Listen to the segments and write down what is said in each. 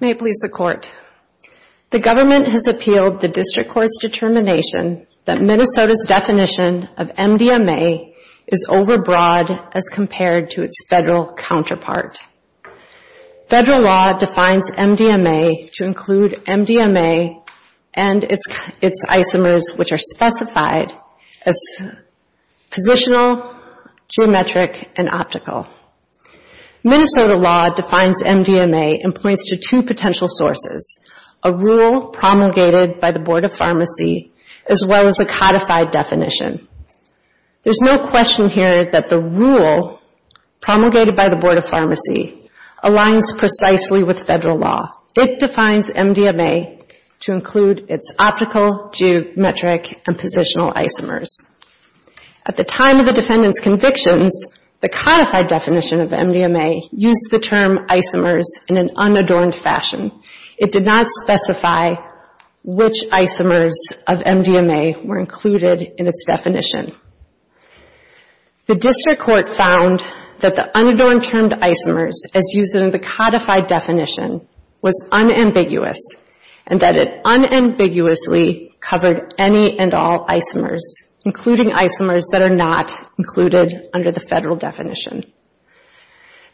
May it please the Court. The government has appealed the district court's determination that Minnesota's definition of MDMA is overbroad as compared to its federal counterpart. Federal law defines MDMA to include MDMA and its isomers, which are specified as positional, geometric, and optical. Minnesota law defines MDMA and points to two potential sources, a rule promulgated by the Board of Pharmacy as well as a codified definition. There's no question here that the rule promulgated by the Board of Pharmacy aligns precisely with federal law. It defines MDMA to include its optical, geometric, and positional isomers. At the time of the defendant's convictions, the codified definition of MDMA used the term isomers in an unadorned fashion. It did not specify which isomers of MDMA were included in its definition. The district court found that the unadorned term to isomers as used in the codified definition was unambiguous and that it unambiguously covered any and all isomers, including isomers that are not included under the federal definition.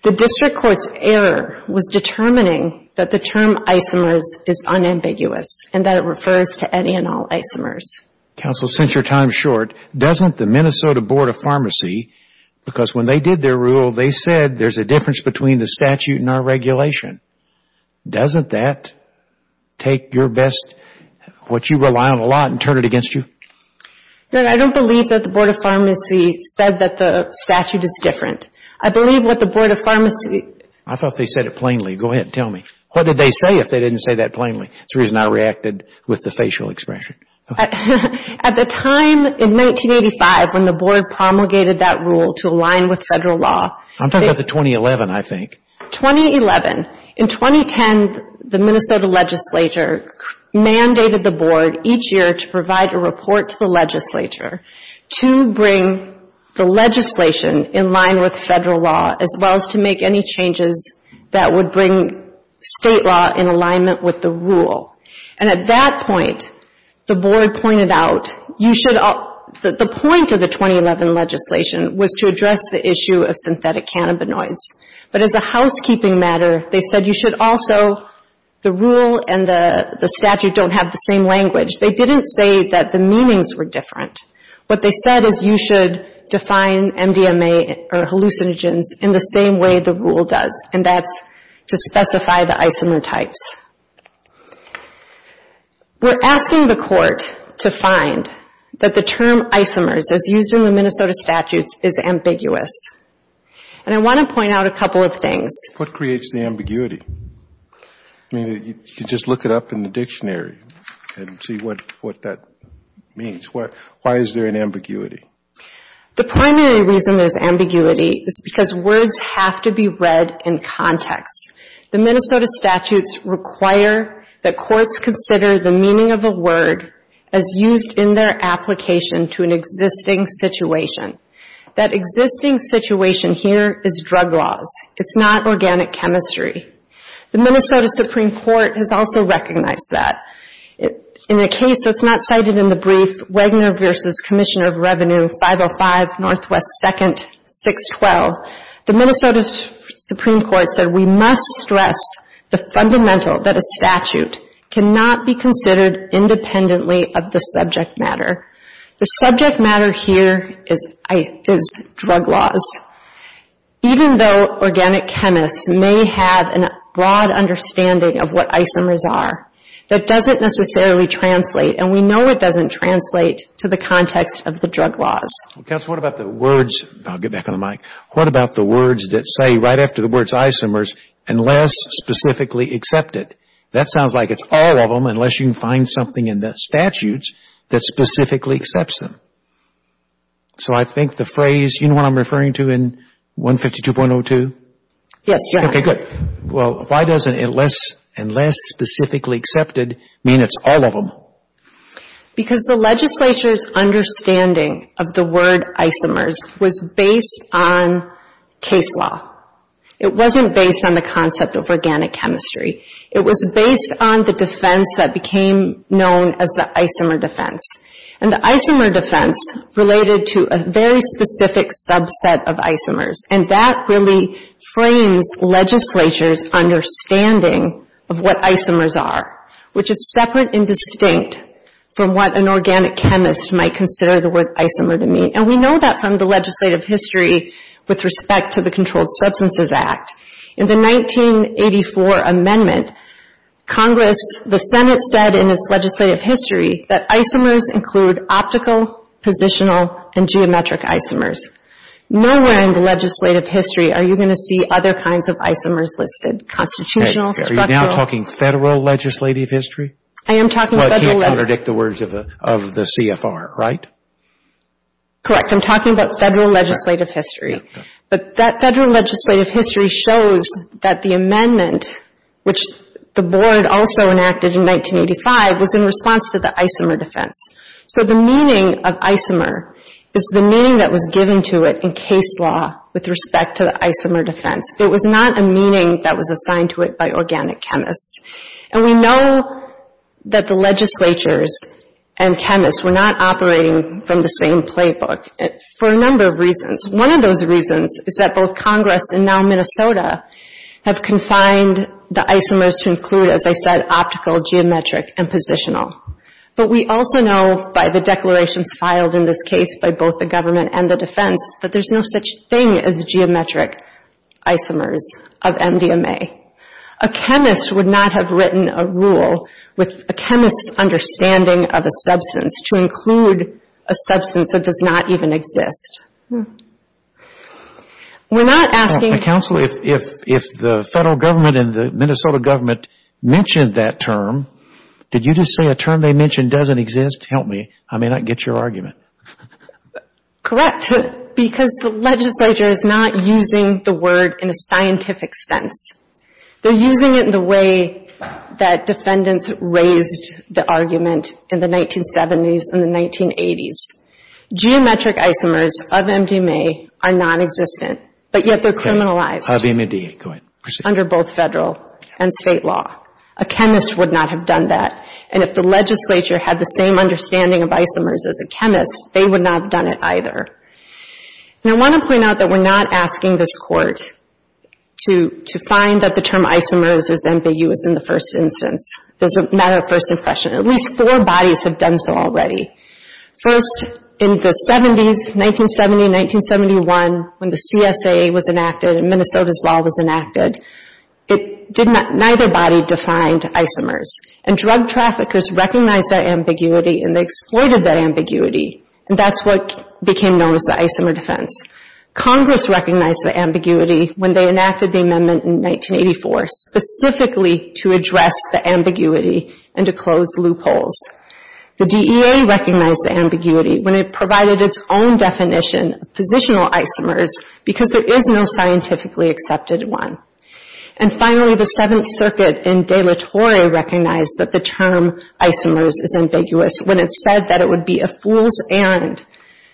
The district court's error was determining that the term isomers is unambiguous and that it refers to any and all isomers. Counsel, since your time is short, doesn't the Minnesota Board of Pharmacy, because when they did their rule, they said there's a difference between the statute and our regulation. Doesn't that take your best, what you rely on a lot, and turn it against you? No, I don't believe that the Board of Pharmacy said that the statute is different. I believe what the Board of Pharmacy... I thought they said it plainly. Go ahead and tell me. What did they say if they didn't say that plainly? That's the reason I reacted with the facial expression. At the time in 1985 when the board promulgated that rule to align with federal law... I'm talking about the 2011, I think. 2011. In 2010, the Minnesota legislature mandated the board each year to provide a report to the legislature to bring the legislation in line with federal law as well as to make any changes that would bring state law in alignment with the rule. And at that point, the board pointed out you should... The point of the 2011 legislation was to address the issue of synthetic cannabinoids. But as a housekeeping matter, they said you should also... The rule and the statute don't have the same language. They didn't say that the meanings were different. What they said is you should define MDMA or hallucinogens in the same way the rule does, and that's to specify the isomer types. We're asking the court to find that the term isomers, as used in the Minnesota statutes, is ambiguous. And I want to point out a couple of things. What creates the ambiguity? I mean, you just look it up in the dictionary and see what that means. Why is there an ambiguity? The primary reason there's ambiguity is because words have to be read in context. The Minnesota statutes require that courts consider the meaning of a word as used in their application to an existing situation. That existing situation here is drug laws. It's not organic chemistry. The Minnesota Supreme Court has also recognized that. In a case that's not cited in the brief, Wagner v. Commissioner of Revenue 505 NW 2nd 612, the Minnesota Supreme Court said we must stress the fundamental that a statute cannot be considered independently of the subject matter. The subject matter here is drug laws. Even though organic chemists may have a broad understanding of what isomers are, that doesn't necessarily translate, and we know it doesn't translate to the context of the drug laws. Counsel, what about the words, I'll get back on the mic, what about the words that say right after the words isomers, unless specifically accepted? That sounds like it's all of them unless you can find something in the statutes that specifically accepts them. So I think the phrase, you know what I'm referring to in 152.02? Yes, Your Honor. Okay, good. Well, why doesn't unless specifically accepted mean it's all of them? Because the legislature's understanding of the word isomers was based on case law. It wasn't based on the concept of organic chemistry. It was based on the defense that became known as the isomer defense, and the isomer defense related to a very specific subset of isomers, and that really frames legislature's understanding of what isomers are, which is separate and distinct from what an organic chemist might consider the word isomer to mean, and we know that from the legislative history with respect to the Controlled Substances Act. In the 1984 amendment, Congress, the Senate said in its legislative history that isomers include optical, positional, and geometric isomers. Nowhere in the legislative history are you going to see other kinds of isomers listed, constitutional, structural. Are you now talking federal legislative history? I am talking federal. You can't contradict the words of the CFR, right? Correct. I'm talking about federal legislative history. But that federal legislative history shows that the amendment, which the Board also enacted in 1985, was in response to the isomer defense. So the meaning of isomer is the meaning that was given to it in case law with respect to the isomer defense. It was not a meaning that was assigned to it by organic chemists. And we know that the legislatures and chemists were not operating from the same playbook for a number of reasons. One of those reasons is that both Congress and now Minnesota have confined the isomers to include, as I said, optical, geometric, and positional. But we also know by the declarations filed in this case by both the government and the defense that there's no such thing as geometric isomers of MDMA. A chemist would not have written a rule with a chemist's understanding of a substance to include a substance that does not even exist. We're not asking for- Counsel, if the federal government and the Minnesota government mentioned that term, did you just say a term they mentioned doesn't exist? Help me. I may not get your argument. Correct, because the legislature is not using the word in a scientific sense. They're using it in the way that defendants raised the argument in the 1970s and the 1980s. Geometric isomers of MDMA are nonexistent, but yet they're criminalized- Of MDMA, go ahead. under both federal and state law. A chemist would not have done that, and if the legislature had the same understanding of isomers as a chemist, they would not have done it either. And I want to point out that we're not asking this Court to find that the term isomers is ambiguous in the first instance. It's a matter of first impression. At least four bodies have done so already. First, in the 70s, 1970-1971, when the CSA was enacted and Minnesota's law was enacted, neither body defined isomers, and drug traffickers recognized that ambiguity and they exploited that ambiguity, and that's what became known as the isomer defense. Congress recognized the ambiguity when they enacted the amendment in 1984, specifically to address the ambiguity and to close loopholes. The DEA recognized the ambiguity when it provided its own definition of positional isomers because there is no scientifically accepted one. And finally, the Seventh Circuit in De La Torre recognized that the term isomers is ambiguous when it said that it would be a fool's errand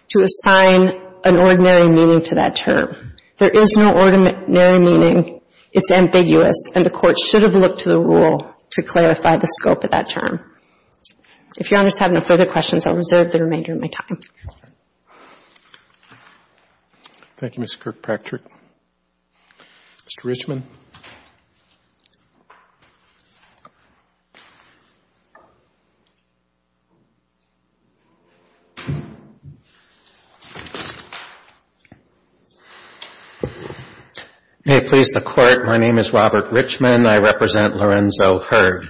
to assign an ordinary meaning to that term. There is no ordinary meaning, it's ambiguous, and the Court should have looked to the rule to clarify the scope of that term. If Your Honors have no further questions, I will reserve the remainder of my time. Roberts. Thank you, Ms. Kirkpatrick. Mr. Richman. Hey, please, the Court. My name is Robert Richman. I represent Lorenzo Heard.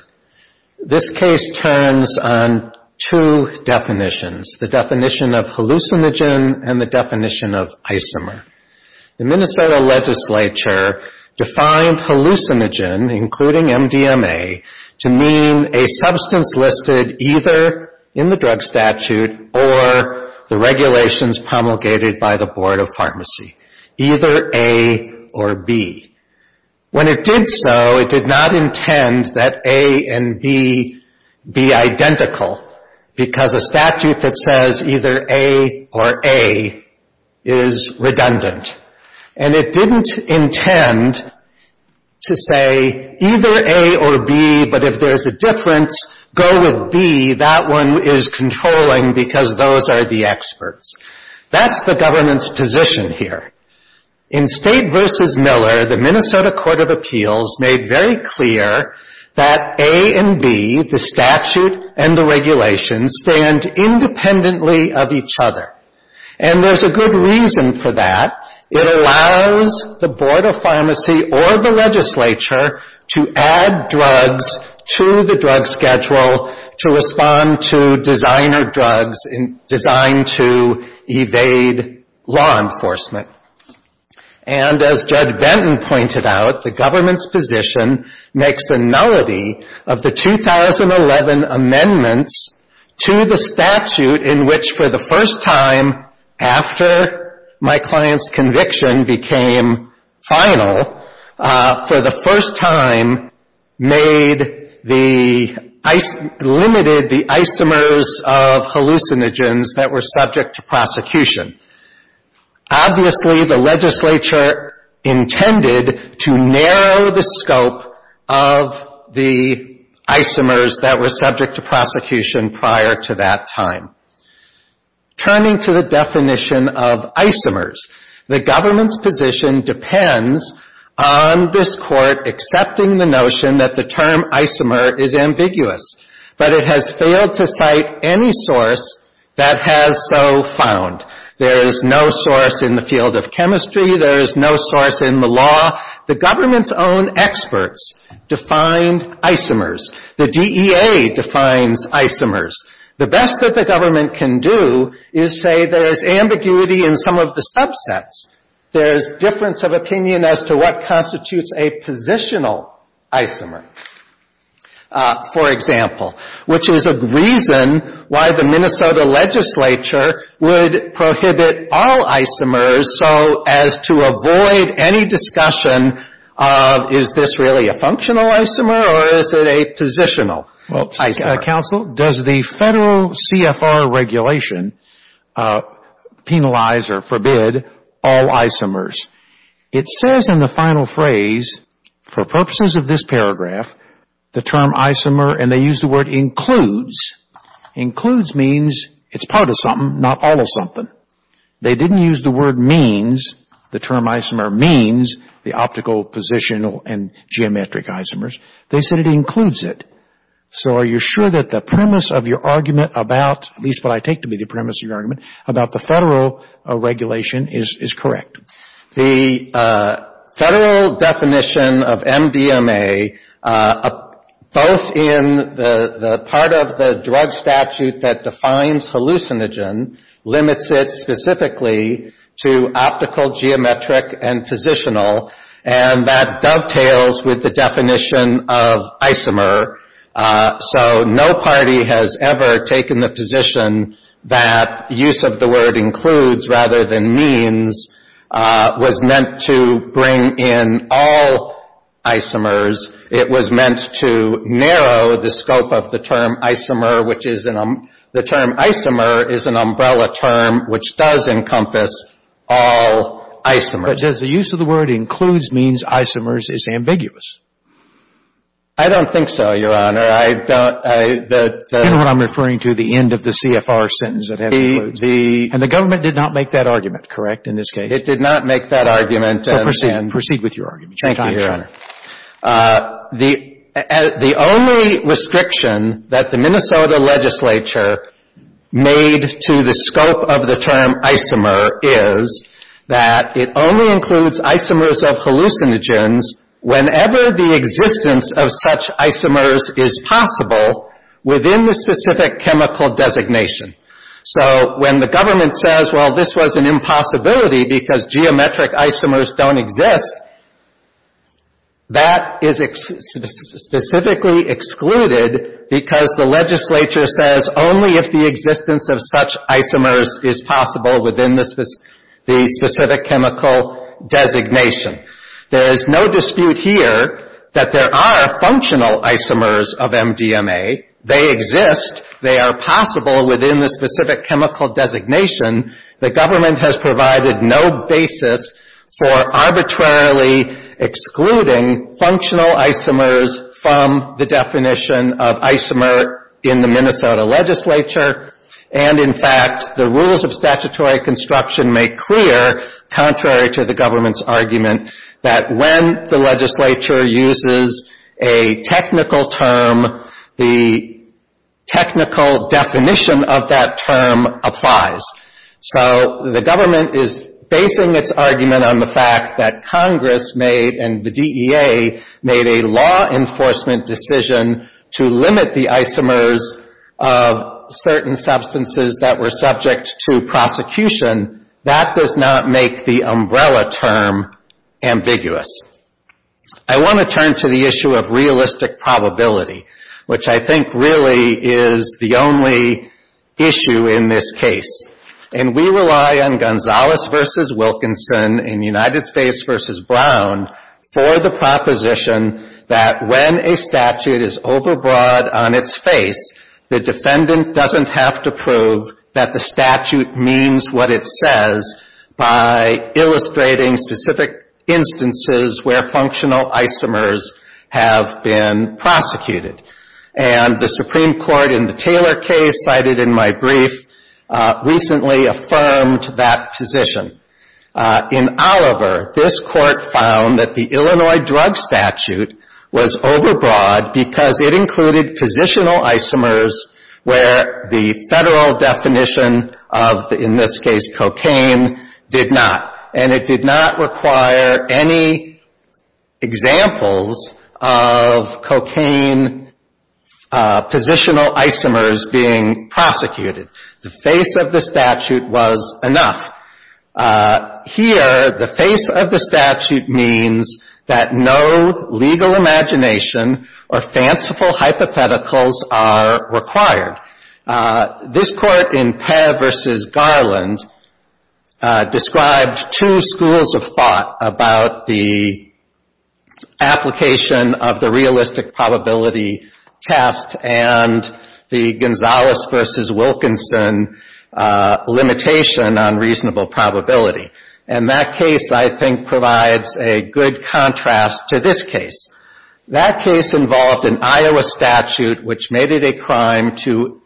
This case turns on two definitions, the definition of hallucinogen and the definition of isomer. The Minnesota legislature defined hallucinogen, including MDMA, to mean a substance listed either in the drug statute or the regulations promulgated by the Board of Pharmacy, either A or B. When it did so, it did not intend that A and B be identical because a statute that says either A or A is redundant. And it didn't intend to say either A or B, but if there's a difference, go with B. That one is controlling because those are the experts. That's the government's position here. In State v. Miller, the Minnesota Court of Appeals made very clear that A and B, the statute and the regulations, stand independently of each other. And there's a good reason for that. It allows the Board of Pharmacy or the legislature to add drugs to the drug schedule to respond to designer drugs designed to evade law enforcement. And as Judge Benton pointed out, the government's position makes a melody of the 2011 amendments to the statute in which, for the first time after my client's conviction became final, for the first time made the — limited the isomers of hallucinogens that were subject to prosecution. Obviously, the legislature intended to narrow the scope of the isomers that were subject to prosecution prior to that time. Turning to the definition of isomers, the government's position depends on this court accepting the notion that the term isomer is ambiguous, but it has failed to cite any source that has so found. There is no source in the field of chemistry. There is no source in the law. The government's own experts defined isomers. The DEA defines isomers. The best that the government can do is say there is ambiguity in some of the subsets. There is difference of opinion as to what constitutes a positional isomer, for example, which is a reason why the Minnesota legislature would prohibit all isomers so as to avoid any discussion of, is this really a functional isomer or is it a positional isomer? Well, counsel, does the Federal CFR regulation penalize or forbid all isomers? It says in the final phrase, for purposes of this paragraph, the term isomer, and they use the word includes. Includes means it's part of something, not all of something. They didn't use the word means. The term isomer means the optical, positional, and geometric isomers. They said it includes it. So are you sure that the premise of your argument about, at least what I take to be the premise of your argument, about the Federal regulation is correct? The Federal definition of MDMA, both in the part of the drug statute that defines hallucinogen, limits it specifically to optical, geometric, and positional, and that dovetails with the definition of isomer. So no party has ever taken the position that use of the word includes rather than means was meant to bring in all isomers. It was meant to narrow the scope of the term isomer, which is an umbrella term which does encompass all isomers. But does the use of the word includes means isomers is ambiguous? I don't think so, Your Honor. I don't. You know what I'm referring to, the end of the CFR sentence that has includes. And the government did not make that argument, correct, in this case? It did not make that argument. So proceed with your argument. Thank you, Your Honor. The only restriction that the Minnesota legislature made to the scope of the term isomer is that it only includes isomers of hallucinogens whenever the existence of such isomers is possible within the specific chemical designation. So when the government says, well, this was an impossibility because geometric isomers don't exist, that is specifically excluded because the legislature says only if the existence of such isomers is possible within the specific chemical designation. There is no dispute here that there are functional isomers of MDMA. They exist. They are possible within the specific chemical designation. The government has provided no basis for arbitrarily excluding functional isomers from the definition of isomer in the Minnesota legislature. And, in fact, the rules of statutory construction make clear, contrary to the government's argument, that when the legislature uses a technical term, the technical definition of that term applies. So the government is basing its argument on the fact that Congress made and the DEA made a law enforcement decision to limit the isomers of certain substances that were subject to prosecution. That does not make the umbrella term ambiguous. I want to turn to the issue of realistic probability, which I think really is the only issue in this case. And we rely on Gonzales v. Wilkinson and United States v. Brown for the proposition that when a statute is overbroad on its face, the defendant doesn't have to prove that the statute means what it says by illustrating specific instances where functional isomers have been prosecuted. And the Supreme Court in the Taylor case cited in my brief recently affirmed that position. In Oliver, this court found that the Illinois drug statute was overbroad because it included positional isomers where the federal definition of, in this case, cocaine, did not. And it did not require any examples of cocaine positional isomers being prosecuted. The face of the statute was enough. Here, the face of the statute means that no legal imagination or fanciful hypotheticals are required. This court in Peh v. Garland described two schools of thought about the application of the realistic probability test and the Gonzales v. Wilkinson limitation on reasonable probability. And that case, I think, provides a good contrast to this case. That case involved an Iowa statute which made it a crime to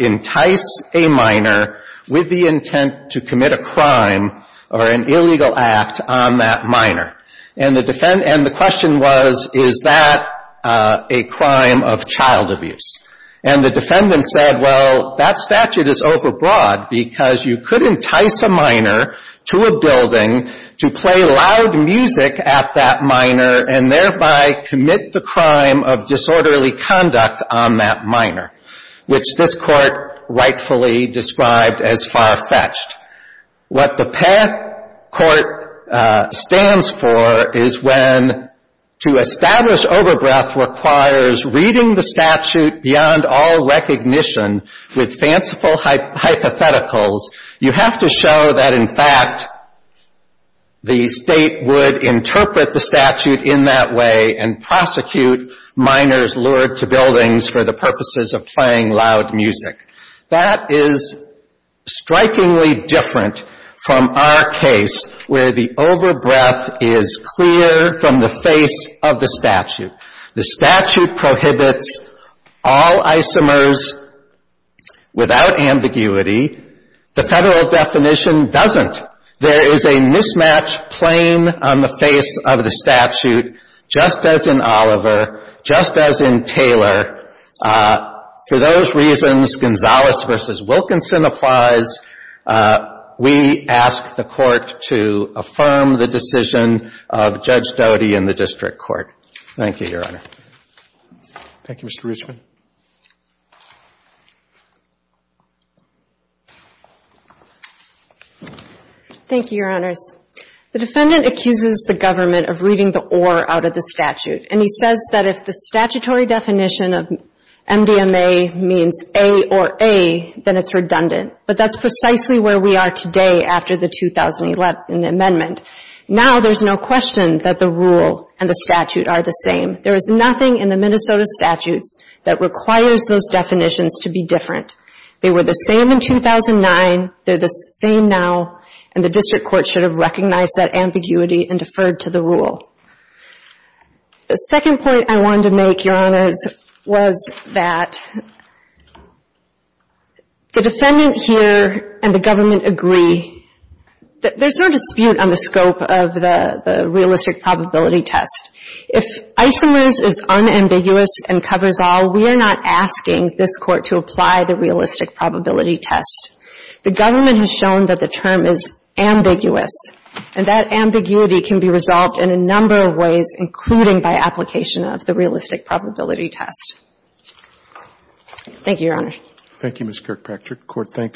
entice a minor with the intent to commit a crime or an illegal act on that minor. And the question was, is that a crime of child abuse? And the defendant said, well, that statute is overbroad because you could entice a minor to a building to play loud music at that minor and thereby commit the crime of disorderly conduct on that minor, which this court rightfully described as far-fetched. What the Peh court stands for is when to establish overbreath requires reading the statute beyond all recognition with fanciful hypotheticals. You have to show that, in fact, the State would interpret the statute in that way and prosecute minors lured to buildings for the purposes of playing loud music. That is strikingly different from our case where the overbreath is clear from the face of the statute. The statute prohibits all isomers without ambiguity. The Federal definition doesn't. There is a mismatch plain on the face of the statute, just as in Oliver, just as in Taylor. For those reasons, Gonzalez v. Wilkinson applies. We ask the Court to affirm the decision of Judge Doty and the district court. Thank you, Your Honor. Thank you, Mr. Richman. Thank you, Your Honors. The defendant accuses the government of reading the or out of the statute. And he says that if the statutory definition of MDMA means A or A, then it's redundant. But that's precisely where we are today after the 2011 amendment. Now there's no question that the rule and the statute are the same. There is nothing in the Minnesota statutes that requires those definitions to be different. They were the same in 2009. They're the same now. And the district court should have recognized that ambiguity and deferred to the rule. The second point I wanted to make, Your Honors, was that the defendant here and the government agree that there's no dispute on the scope of the realistic probability test. If isomers is unambiguous and covers all, we are not asking this Court to apply the realistic probability test. The government has shown that the term is ambiguous. And that ambiguity can be resolved in a number of ways, including by application of the realistic probability test. Thank you, Your Honor. Thank you, Ms. Kirkpatrick. Court, thanks.